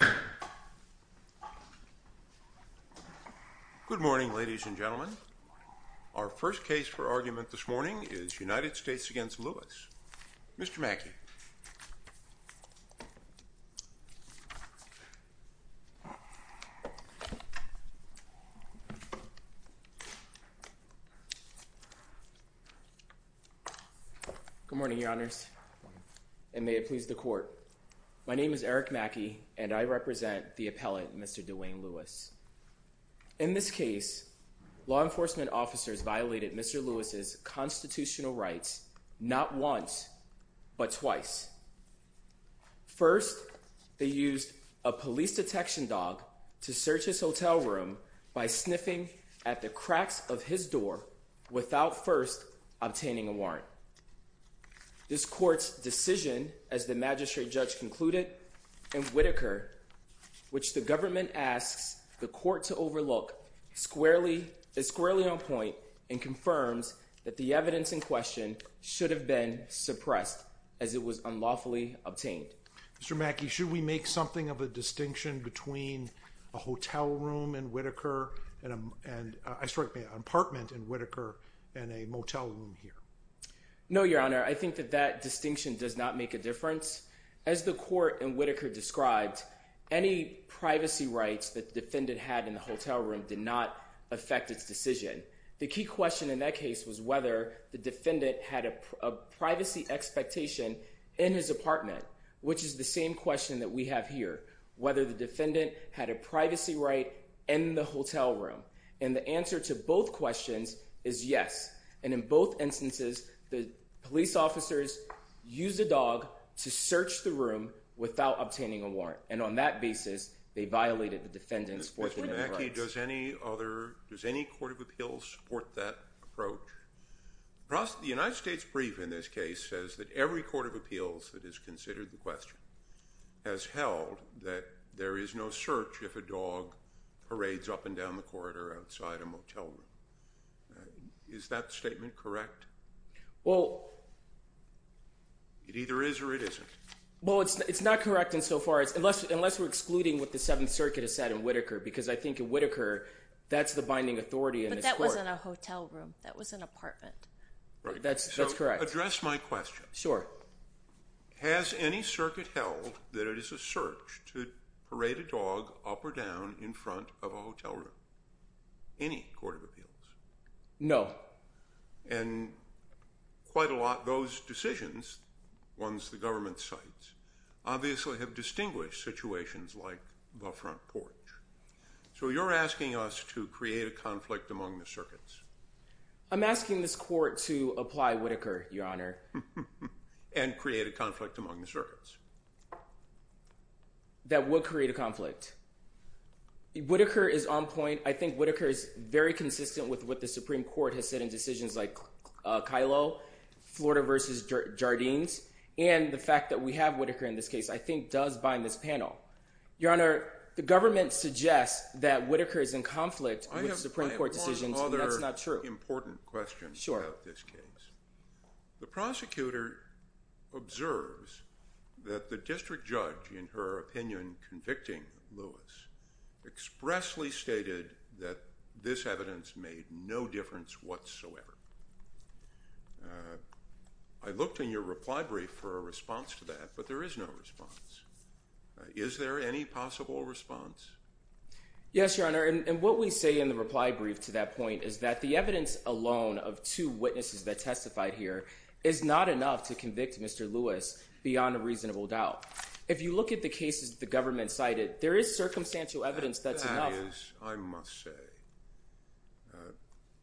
Good morning, ladies and gentlemen. Our first case for argument this morning is United States v. Lewis. Mr. Mackey? Good morning, Your Honors, and may it please the Court. My name is Eric Mackey, and I represent the appellate, Mr. DeWayne Lewis. In this case, law enforcement officers violated Mr. Lewis' constitutional rights not once, but twice. First, they used a police detection dog to search his hotel room by sniffing at the cracks of his door without first obtaining a warrant. This Court's decision, as the magistrate judge concluded, in Whitaker, which the government asks the Court to overlook, is squarely on point and confirms that the evidence in question should have been suppressed as it was unlawfully obtained. Mr. Mackey, should we make something of a distinction between a hotel room in Whitaker and a motel room here? No, Your Honor, I think that that distinction does not make a difference. As the Court in Whitaker described, any privacy rights that the defendant had in the hotel room did not affect its decision. The key question in that case was whether the defendant had a privacy expectation in his apartment, which is the same question that we have here, whether the defendant had a privacy right in the hotel room. And the answer to both questions is yes. And in both instances, the police officers used a dog to search the room without obtaining a warrant. And on that basis, they violated the defendant's constitutional rights. Mr. Mackey, does any other, does any Court of Appeals support that approach? The United States Brief, in this case, says that every Court of Appeals that has considered the question has held that there is no search if a dog parades up and down the corridor outside a motel room. Is that statement correct? Well, it either is or it isn't. Well, it's not correct in so far as, unless we're excluding what the Seventh Circuit has said in Whitaker, because I think in Whitaker, that's the binding authority in this Court. But that wasn't a hotel room. That was an apartment. That's correct. So, to address my question. Sure. Has any circuit held that it is a search to parade a dog up or down in front of a hotel room? Any Court of Appeals? No. And quite a lot of those decisions, ones the government cites, obviously have distinguished situations like the front porch. So you're asking us to create a conflict among the circuits? I'm asking this Court to apply Whitaker, Your Honor. And create a conflict among the circuits? That would create a conflict. Whitaker is on point. I think Whitaker is very consistent with what the Supreme Court has said in decisions like Kylo, Florida versus Jardines, and the fact that we have Whitaker in this case, I think does bind this panel. Your Honor, the government suggests that Whitaker is in conflict with Supreme Court decisions. That's not true. I have one other important question about this case. The prosecutor observes that the district judge, in her opinion, convicting Lewis, expressly stated that this evidence made no difference whatsoever. I looked in your reply brief for a response to that, but there is no response. Is there any possible response? Yes, in the reply brief to that point is that the evidence alone of two witnesses that testified here is not enough to convict Mr. Lewis beyond a reasonable doubt. If you look at the cases the government cited, there is circumstantial evidence that's enough. That is, I must say,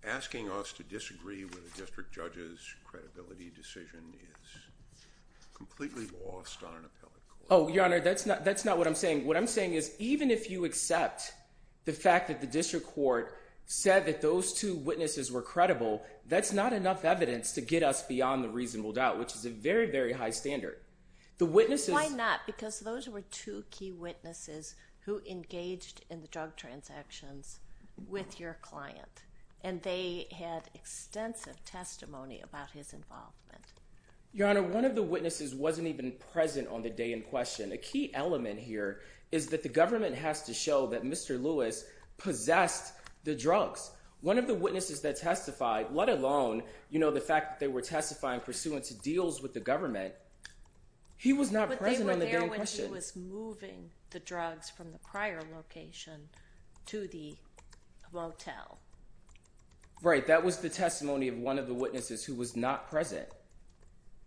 asking us to disagree with a district judge's credibility decision is completely lost on an appellate court. Oh, Your Honor, that's not what I'm saying. What I'm saying is even if you accept the fact that the district court said that those two witnesses were credible, that's not enough evidence to get us beyond the reasonable doubt, which is a very, very high standard. Why not? Because those were two key witnesses who engaged in the drug transactions with your client, and they had extensive testimony about his involvement. Your Honor, one of the witnesses wasn't even present on the day in question. A key element here is that the government has to show that Mr. Lewis possessed the drugs. One of the witnesses that testified, let alone, you know, the fact that they were testifying pursuant to deals with the government, he was not present on the day in question. But they were there when he was moving the drugs from the prior location to the motel. Right, that was the testimony of one of the witnesses who was not present.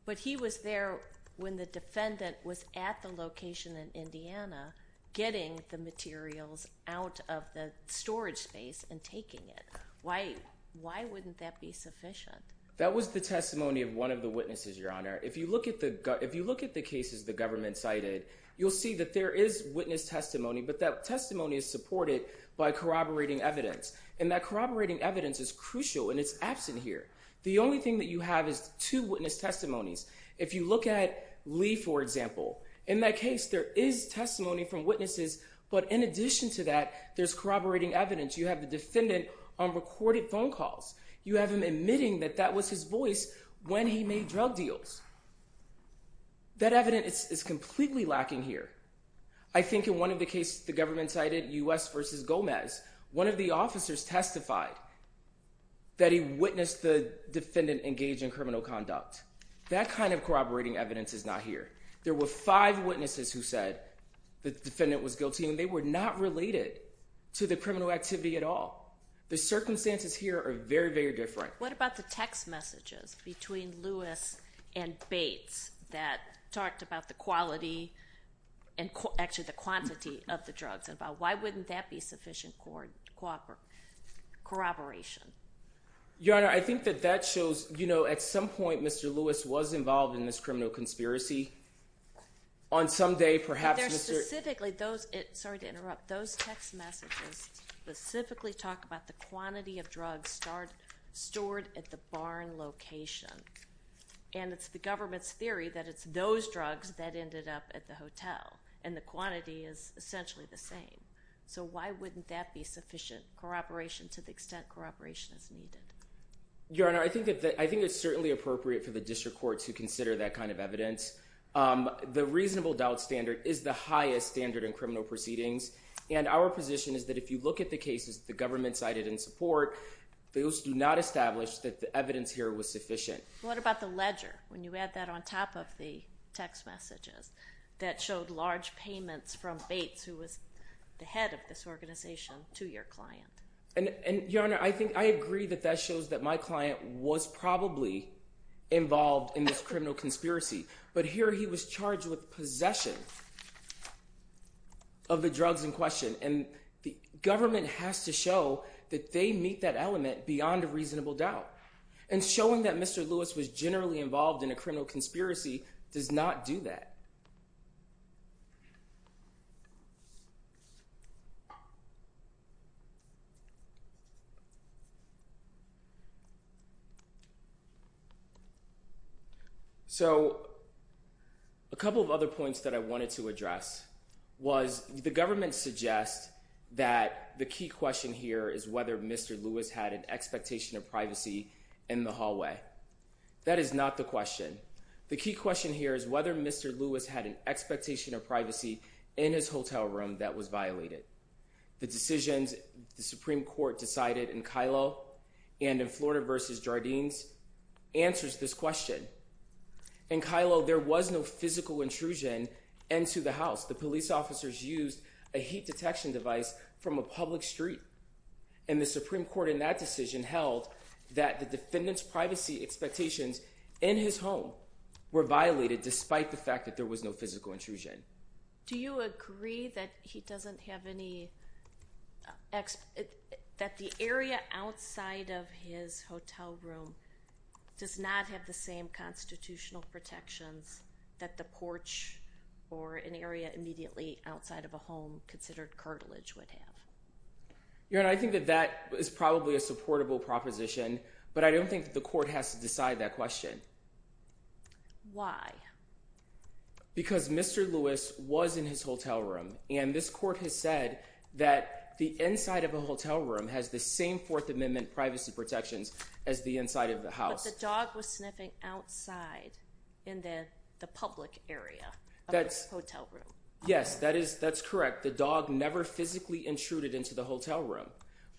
But he was there when the defendant was at the location in Indiana getting the materials out of the storage space and taking it. Why, why wouldn't that be sufficient? That was the testimony of one of the witnesses, Your Honor. If you look at the, if you look at the cases the government cited, you'll see that there is witness testimony, but that testimony is supported by corroborating evidence. And that corroborating evidence is crucial, and it's absent here. The only thing that you have is two witness testimonies. If you look at Lee, for example, in that case there is testimony from witnesses, but in addition to that, there's corroborating evidence. You have the defendant on recorded phone calls. You have him admitting that that was his voice when he made drug deals. That evidence is completely lacking here. I think in one of the cases the government cited, U.S. versus Gomez, one of the That kind of corroborating evidence is not here. There were five witnesses who said the defendant was guilty, and they were not related to the criminal activity at all. The circumstances here are very, very different. What about the text messages between Lewis and Bates that talked about the quality and actually the quantity of the drugs? Why wouldn't that be sufficient corroboration? Your Honor, I think that that shows, you know, at some point Mr. Lewis was involved in this criminal conspiracy. On some day, perhaps Mr. Specifically, those, sorry to interrupt, those text messages specifically talk about the quantity of drugs stored at the barn location. And it's the government's theory that it's those drugs that ended up at the hotel, and the quantity is essentially the same. So why wouldn't that be sufficient corroboration to the extent that corroboration is needed? Your Honor, I think that I think it's certainly appropriate for the district court to consider that kind of evidence. The reasonable doubt standard is the highest standard in criminal proceedings. And our position is that if you look at the cases the government cited in support, those do not establish that the evidence here was sufficient. What about the ledger? When you add that on top of the text messages that showed large payments from Bates, who was the head of this organization, to your client? And, Your Honor, I think I agree that that shows that my client was probably involved in this criminal conspiracy. But here he was charged with possession of the drugs in question. And the government has to show that they meet that element beyond a reasonable doubt. And showing that Mr. Lewis was generally involved in a criminal conspiracy does not do that. So a couple of other points that I wanted to address was the government suggests that the key question here is whether Mr. Lewis had an expectation of privacy in the hallway. That is not the question. The key question here is whether Mr. Lewis had an expectation of privacy in his hotel room that was violated. The decisions the Supreme Court decided in Kylo and in Florida v. Jardines answers this question. In Kylo, there was no physical intrusion into the house. The police officers used a heat detection device from a public street. And the Supreme Court in that decision held that the defendant's privacy expectations in his home were violated, despite the fact that there was no physical intrusion. Do you agree that he doesn't have any, that the area outside of his hotel room does not have the same constitutional protections that the porch or an area immediately outside of a home considered cartilage would have? Your Honor, I think that that is probably a supportable proposition, but I don't think the court has to decide that question. Why? Because Mr. Lewis was in his hotel room, and this court has said that the inside of a hotel room has the same Fourth Amendment privacy protections as the inside of the house. But the dog was sniffing outside in the public area of the hotel room. Yes, that's correct. The dog never physically intruded into the hotel room.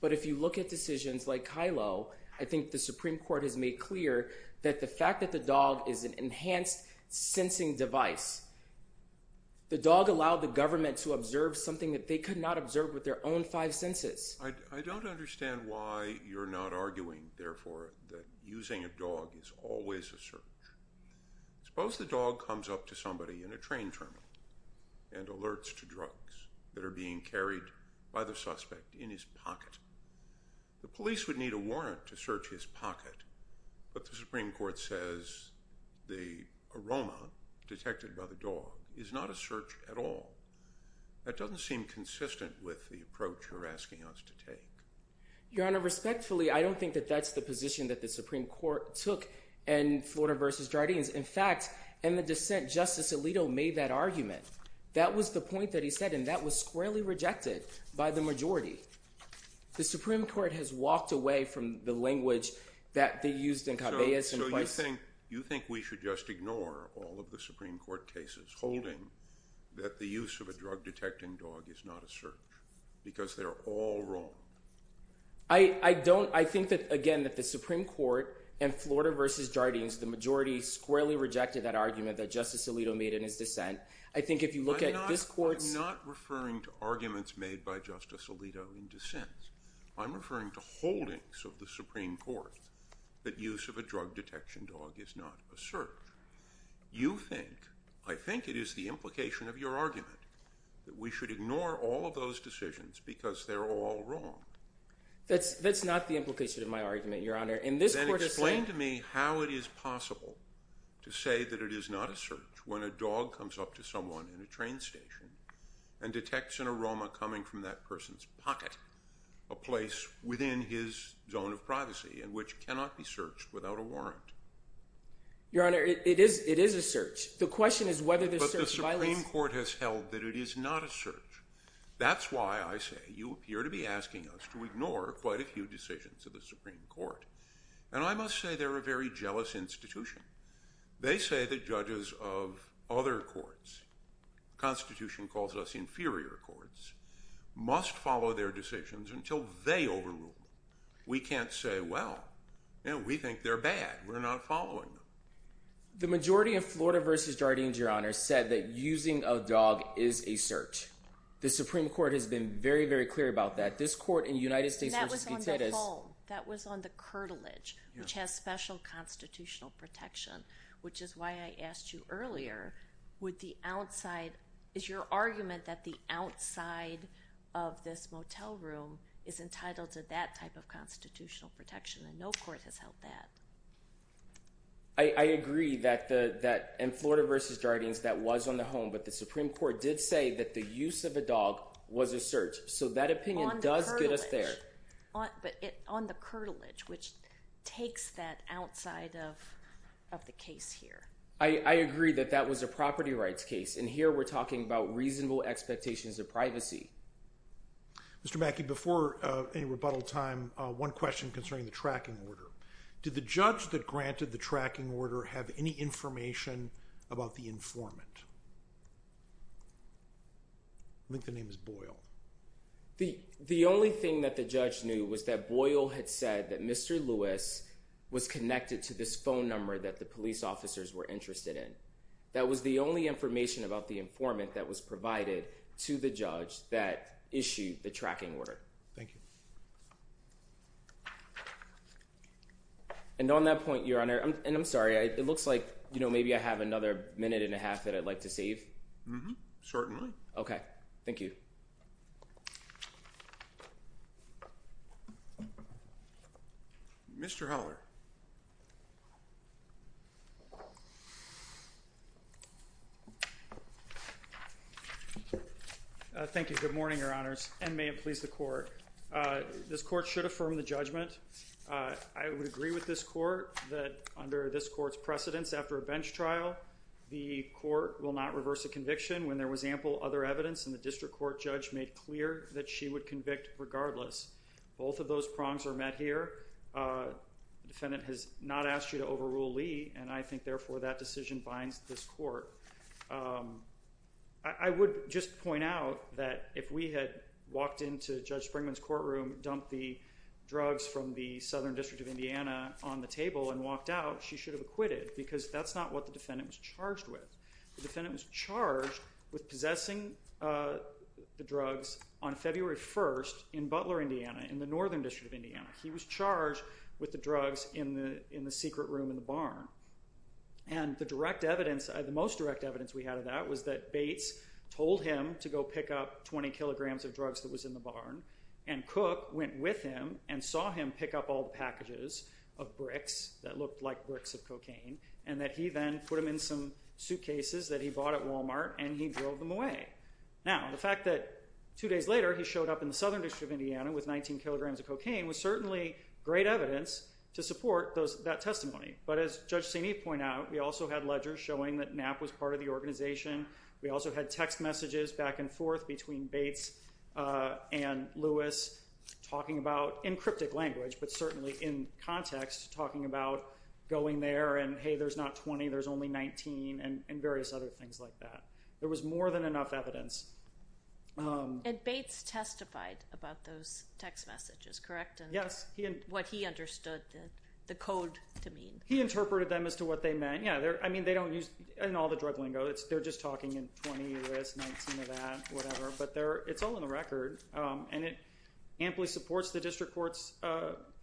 But if you look at decisions like Kylo, I think the Supreme Court has made clear that the fact that the dog is an enhanced sensing device, the dog allowed the government to observe something that they could not observe with their own five senses. I don't understand why you're not arguing, therefore, that using a dog is always a search. Suppose the dog comes up to somebody in a train terminal and alerts to drugs that are being carried by the suspect in his pocket. The police would need a warrant to search his pocket, but the Supreme Court says the aroma detected by the dog is not a search at all. That doesn't seem consistent with the approach you're asking us to take. Your Honor, respectfully, I don't think that that's the position that the Supreme Court took in Florida v. Jardines. In fact, in the dissent, Justice Alito made that argument. That was the point that he said, and that was squarely rejected by the majority. The Supreme Court has walked away from the language that they used in Cabellas and Weiss. So you think we should just ignore all of the Supreme Court cases holding that the use of a drug detecting dog is not a search, because they're all wrong. I think that, again, that the Supreme Court in Florida v. Jardines, the majority squarely rejected that argument that Justice Alito made in his dissent. I think if you look at this court's... I'm not referring to arguments made by Justice Alito in dissent. I'm referring to holdings of the Supreme Court that use of a drug detection dog is not a search. You think, I think it is the implication of your argument that we should ignore all of those decisions because they're all wrong. That's not the implication of my argument, Your Honor. Then explain to me how it is possible to say that it is not a search when a dog comes up to someone in a train station and detects an aroma coming from that person's pocket, a place within his zone of privacy, and which cannot be searched without a warrant. Your Honor, it is a search. The question is whether the search violates... But the Supreme Court has held that it is not a search. That's why I say you appear to be asking us to ignore quite a few decisions of the Supreme Court. And I must say they're a very jealous institution. They say that judges of other courts, the Constitution calls us inferior courts, must follow their decisions until they overrule them. We can't say, well, you know, we think they're bad. We're not following them. The majority of Florida v. Jardines, Your Honor, said that using a dog is a search. The Supreme Court has been very, very clear about that. This protection, which is why I asked you earlier, would the outside... Is your argument that the outside of this motel room is entitled to that type of constitutional protection? And no court has held that. I agree that in Florida v. Jardines, that was on the home. But the Supreme Court did say that the use of a dog was a search. So that opinion does get us there. On the curtilage, which takes that outside of the case here. I agree that that was a property rights case. And here we're talking about reasonable expectations of privacy. Mr. Mackey, before any rebuttal time, one question concerning the tracking order. Did the judge that granted the tracking order have any information about the informant? I think the name is Boyle. The only thing that the judge knew was that Boyle had said that Mr. Lewis was connected to this phone number that the police officers were interested in. That was the only information about the informant that was provided to the judge that issued the tracking order. Thank you. And on that point, Your Honor, and I'm sorry, it looks like, you know, maybe I have another minute and a half that I'd like to save. Certainly. Okay. Thank you. Mr. Heller. Thank you. Good morning, Your Honors, and may it please the court. This court should affirm the judgment. I would agree with this court that under this court's precedence after a bench trial, the court will not reverse a conviction when there was ample other evidence and the district court judge made clear that she would convict regardless. Both of those prongs are met here. The defendant has not asked you to overrule Lee, and I think therefore that decision binds this court. I would just point out that if we had walked into Judge Springman's courtroom, dumped the drugs from the Southern District of Indiana on the table and walked out, she should have acquitted because that's not what the defendant was charged with. The defendant was charged with possessing the drugs on February 1st in Butler, Indiana, in the Northern District of Indiana. He was charged with the drugs in the secret room in the barn. And the direct evidence, the most direct evidence we had of that was that Bates told him to go pick up 20 kilograms of drugs that was in the barn, and Cook went with him and saw him pick up all and that he then put them in some suitcases that he bought at Walmart and he drove them away. Now, the fact that two days later he showed up in the Southern District of Indiana with 19 kilograms of cocaine was certainly great evidence to support that testimony. But as Judge St. Eve pointed out, we also had ledgers showing that Knapp was part of the organization. We also had text messages back and forth between Bates and Lewis talking about, in cryptic language, but certainly in context, talking about going there and, hey, there's not 20, there's only 19, and various other things like that. There was more than enough evidence. And Bates testified about those text messages, correct? Yes. What he understood the code to mean. He interpreted them as to what they meant. Yeah, I mean, they don't use, in all the drug lingo, they're just talking in 20, Lewis, 19 of that, whatever. But it's all in the record, and it amply supports the district court's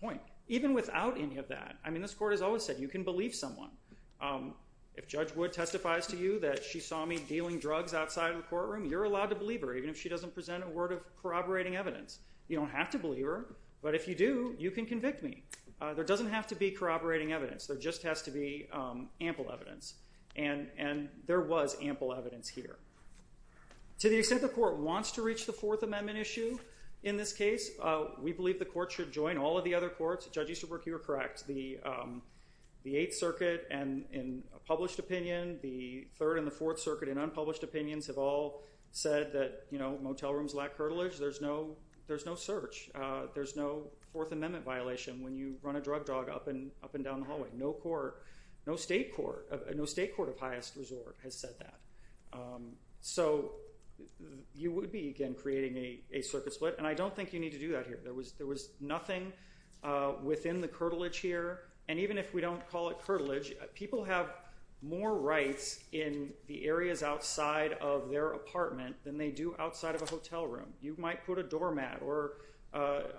point. Even without any of that, I mean, this court has always said you can believe someone. If Judge Wood testifies to you that she saw me dealing drugs outside of the courtroom, you're allowed to believe her, even if she doesn't present a word of corroborating evidence. You don't have to believe her, but if you do, you can convict me. There doesn't have to be corroborating evidence. There just has to be ample evidence. And there was ample evidence here. To the extent the court wants to reach the Fourth Amendment issue in this case, we believe the court should join all of the other courts. Judge Easterbrook, you were correct. The Eighth Circuit, in a published opinion, the Third and the Fourth Circuit, in unpublished opinions, have all said that motel rooms lack heritage. There's no search. There's no Fourth Amendment violation when you run a drug dog up and down the hallway. No state court of highest resort has said that. So you would be, again, creating a circuit split, and I don't think you need to do that here. There was nothing within the curtilage here, and even if we don't call it curtilage, people have more rights in the areas outside of their apartment than they do outside of a hotel room. You might put a doormat, or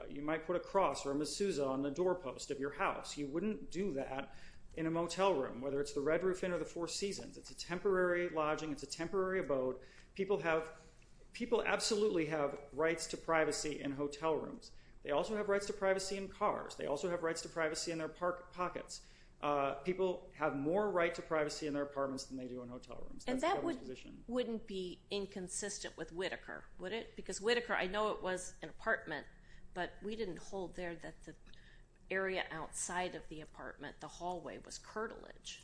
you might put a cross or a masseuse on the doorpost of your house. You wouldn't do that in a motel room, whether it's the Red Roof Inn or the Four Seasons. It's a temporary lodging. It's a temporary abode. People absolutely have rights to privacy in hotel rooms. They also have rights to privacy in cars. They also have rights to privacy in their pockets. People have more right to privacy in their apartments than they do in hotel rooms. And that wouldn't be inconsistent with Whitaker, would it? Because Whitaker, I know it was an apartment, but we didn't hold there that the area outside of the apartment, the hallway, was curtilage.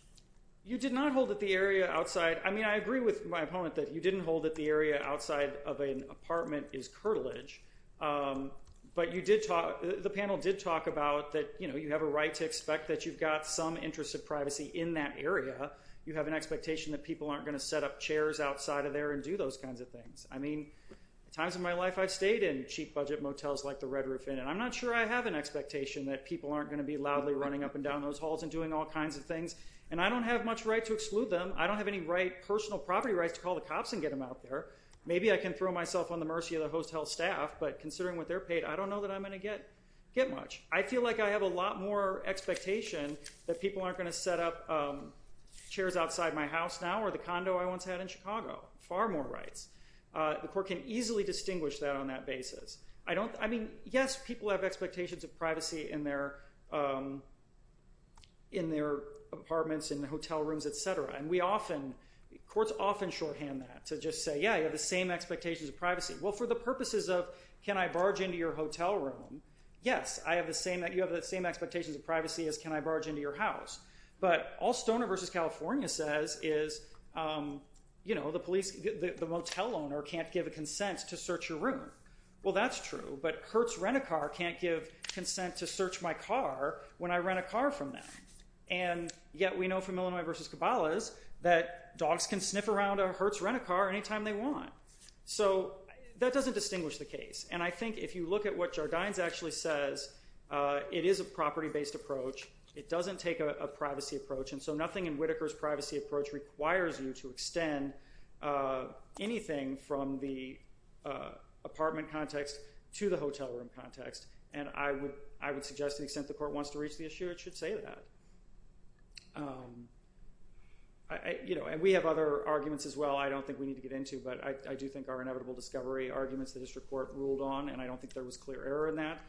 I mean, I agree with my opponent that you didn't hold that the area outside of an apartment is curtilage, but the panel did talk about that you have a right to expect that you've got some interest of privacy in that area. You have an expectation that people aren't going to set up chairs outside of there and do those kinds of things. I mean, at times in my life, I've stayed in cheap budget motels like the Red Roof Inn, and I'm not sure I have an expectation that people aren't going to be loudly running up and down those halls and doing all kinds of things, and I don't have much right to exclude them. I don't have any personal property rights to call the cops and get them out there. Maybe I can throw myself on the mercy of the host health staff, but considering what they're paid, I don't know that I'm going to get much. I feel like I have a lot more expectation that people aren't going to set up chairs outside my house now or the condo I once had in Chicago. Far more rights. The court can easily distinguish that on that basis. I mean, yes, people have rooms, et cetera, and courts often shorthand that to just say, yeah, you have the same expectations of privacy. Well, for the purposes of can I barge into your hotel room, yes, you have the same expectations of privacy as can I barge into your house, but all Stoner versus California says is, you know, the motel owner can't give a consent to search your room. Well, that's true, but Kurt's can't give consent to search my car when I rent a car from them, and yet we know from Illinois versus Cabalas that dogs can sniff around a Hertz rent-a-car any time they want. So that doesn't distinguish the case, and I think if you look at what Jardines actually says, it is a property-based approach. It doesn't take a privacy approach, and so nothing in Whitaker's privacy approach requires you to extend anything from the apartment context to the hotel room context, and I would suggest to the extent the court wants to reach the issue, it should say that. You know, and we have other arguments as well I don't think we need to get into, but I do think are inevitable discovery arguments the district court ruled on, and I don't think there was clear error in that.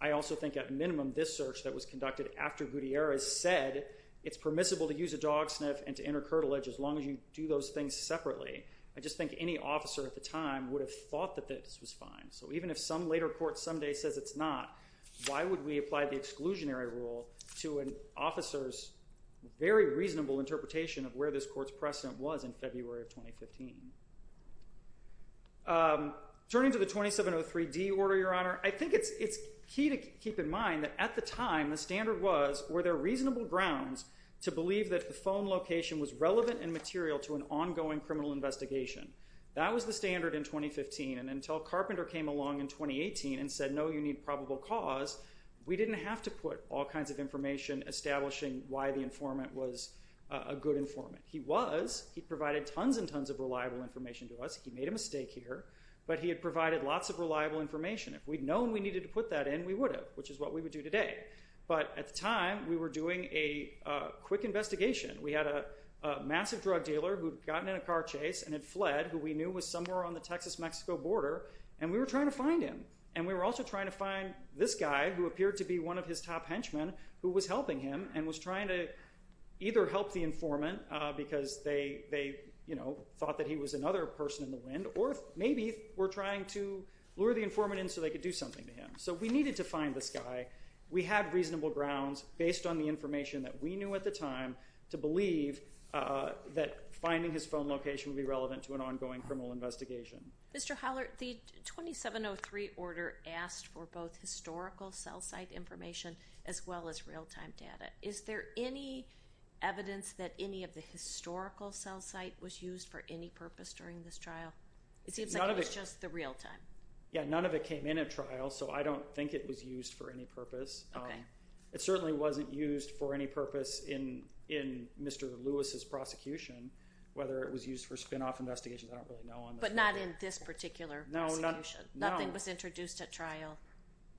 I also think at minimum this search that was conducted after Gutierrez said it's permissible to use a dog sniff and to enter curtilage as long as you do those things separately. I just think any officer at the time would have thought that this was fine, so even if some later court someday says it's not, why would we apply the exclusionary rule to an officer's very reasonable interpretation of where this court's precedent was in February of 2015? Turning to the 2703D order, Your Honor, I think it's key to keep in mind that at the time the standard was were there reasonable grounds to believe that the phone location was relevant and material to an ongoing criminal investigation. That was the standard in 2015, and until Carpenter came along in 2018 and said no, you need probable cause, we didn't have to put all kinds of information establishing why the informant was a good informant. He was. He provided tons and tons of reliable information to us. He made a mistake here, but he had provided lots of reliable information. If we'd known we needed to put that in, we would have, which is what we would do today, but at the time, we were doing a quick investigation. We had a massive drug dealer who'd gotten in a car chase and had fled, who we knew was somewhere on the Texas-Mexico border, and we were trying to find him, and we were also trying to find this guy who appeared to be one of his top henchmen who was helping him and was trying to either help the informant because they thought that he was another person in the wind, or maybe were trying to lure the informant in so they could something to him. So we needed to find this guy. We had reasonable grounds, based on the information that we knew at the time, to believe that finding his phone location would be relevant to an ongoing criminal investigation. Mr. Howler, the 2703 order asked for both historical cell site information as well as real-time data. Is there any evidence that any of the historical cell site was used for any purpose during this trial? It seems like it was just the real-time. Yeah, none of it came in at trial, so I don't think it was used for any purpose. It certainly wasn't used for any purpose in Mr. Lewis's prosecution, whether it was used for spinoff investigations, I don't really know on that. But not in this particular situation? No. Nothing was introduced at trial?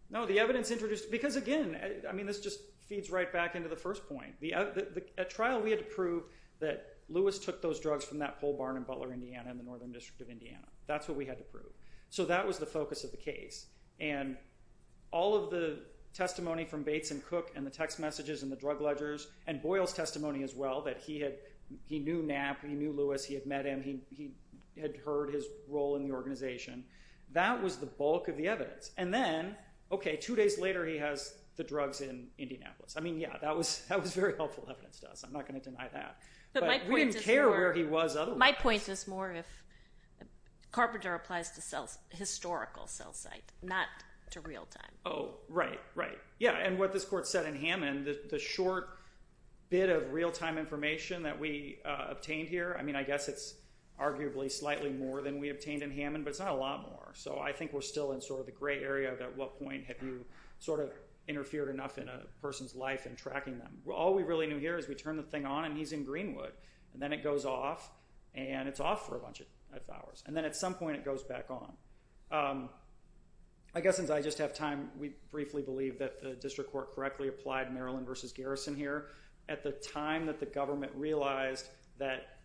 No, the evidence introduced, because again, I mean, this just feeds right back into the first point. At trial, we had to prove that Lewis took those drugs from that pole barn in Butler, Indiana, in the Northern District of Indiana. That's what we had to prove. So that was the focus of the case. And all of the testimony from Bates and Cook and the text messages and the drug ledgers, and Boyle's testimony as well, that he knew Knapp, he knew Lewis, he had met him, he had heard his role in the organization, that was the bulk of the evidence. And then, okay, two days later, he has the drugs in Indianapolis. I mean, yeah, that was very helpful evidence to us. I'm not going to deny that. But we didn't care where he was otherwise. My point is more if Carpenter applies to historical cell site, not to real time. Oh, right, right. Yeah. And what this court said in Hammond, the short bit of real-time information that we obtained here, I mean, I guess it's arguably slightly more than we obtained in Hammond, but it's not a lot more. So I think we're still in sort of the gray area of at what point have you sort of interfered enough in a person's life in tracking them. All we really knew here is we turn the thing on, and he's in Greenwood. And then it goes off, and it's off for a bunch of hours. And then at some point, it goes back on. I guess since I just have time, we briefly believe that the district court correctly applied Maryland versus Garrison here. At the time that the government realized that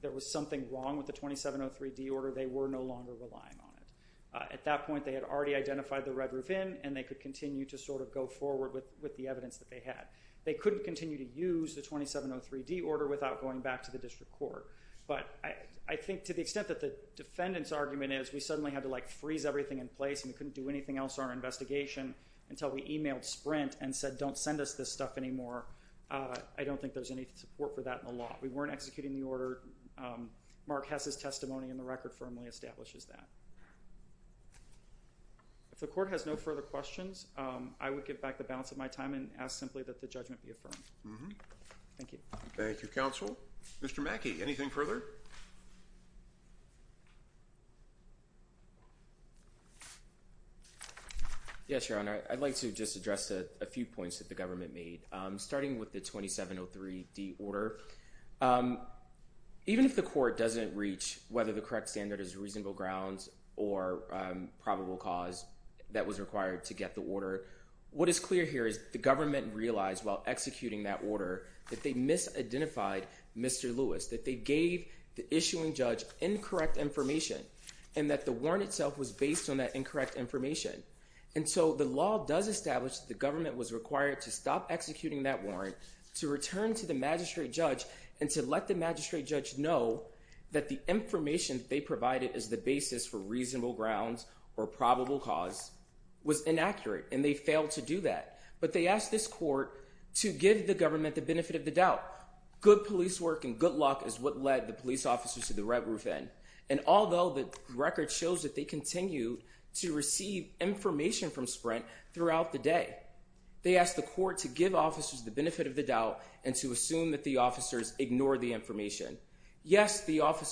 there was something wrong with the 2703D order, they were no longer relying on it. At that point, they had already identified the Red Roof Inn, and they could continue to sort of go forward with the evidence that they had. They couldn't continue to use the 2703D order without going back to the district court. But I think to the extent that the defendant's argument is we suddenly had to freeze everything in place, and we couldn't do anything else on our investigation until we emailed Sprint and said, don't send us this stuff anymore, I don't think there's any support for that in the law. We weren't executing the order. Mark Hess's testimony in the time and ask simply that the judgment be affirmed. Thank you. Thank you, counsel. Mr. Mackey, anything further? Yes, Your Honor. I'd like to just address a few points that the government made. Starting with the 2703D order, even if the court doesn't reach whether the correct standard is reasonable grounds or probable cause that was required to get the order, what is clear here is the government realized while executing that order that they misidentified Mr. Lewis, that they gave the issuing judge incorrect information, and that the warrant itself was based on that incorrect information. And so the law does establish that the government was required to stop executing that warrant, to return to the magistrate judge, and to let the magistrate judge know that the information they provided as the basis for reasonable grounds or probable cause was inaccurate, and they failed to do that. But they asked this court to give the government the benefit of the doubt. Good police work and good luck is what led the police officers to the red roof end. And although the record shows that they continue to receive information from Sprint throughout the day, they asked the court to give officers the benefit of the doubt and to assume that the officer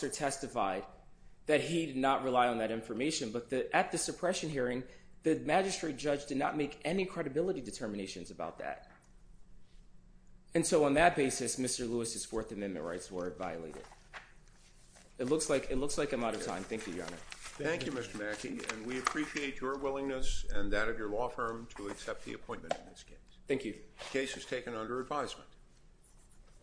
testified that he did not rely on that information. But at the suppression hearing, the magistrate judge did not make any credibility determinations about that. And so on that basis, Mr. Lewis's Fourth Amendment rights were violated. It looks like I'm out of time. Thank you, Your Honor. Thank you, Mr. Mackey, and we appreciate your willingness and that of your law firm to accept the appointment in this case. The case is taken under advisement.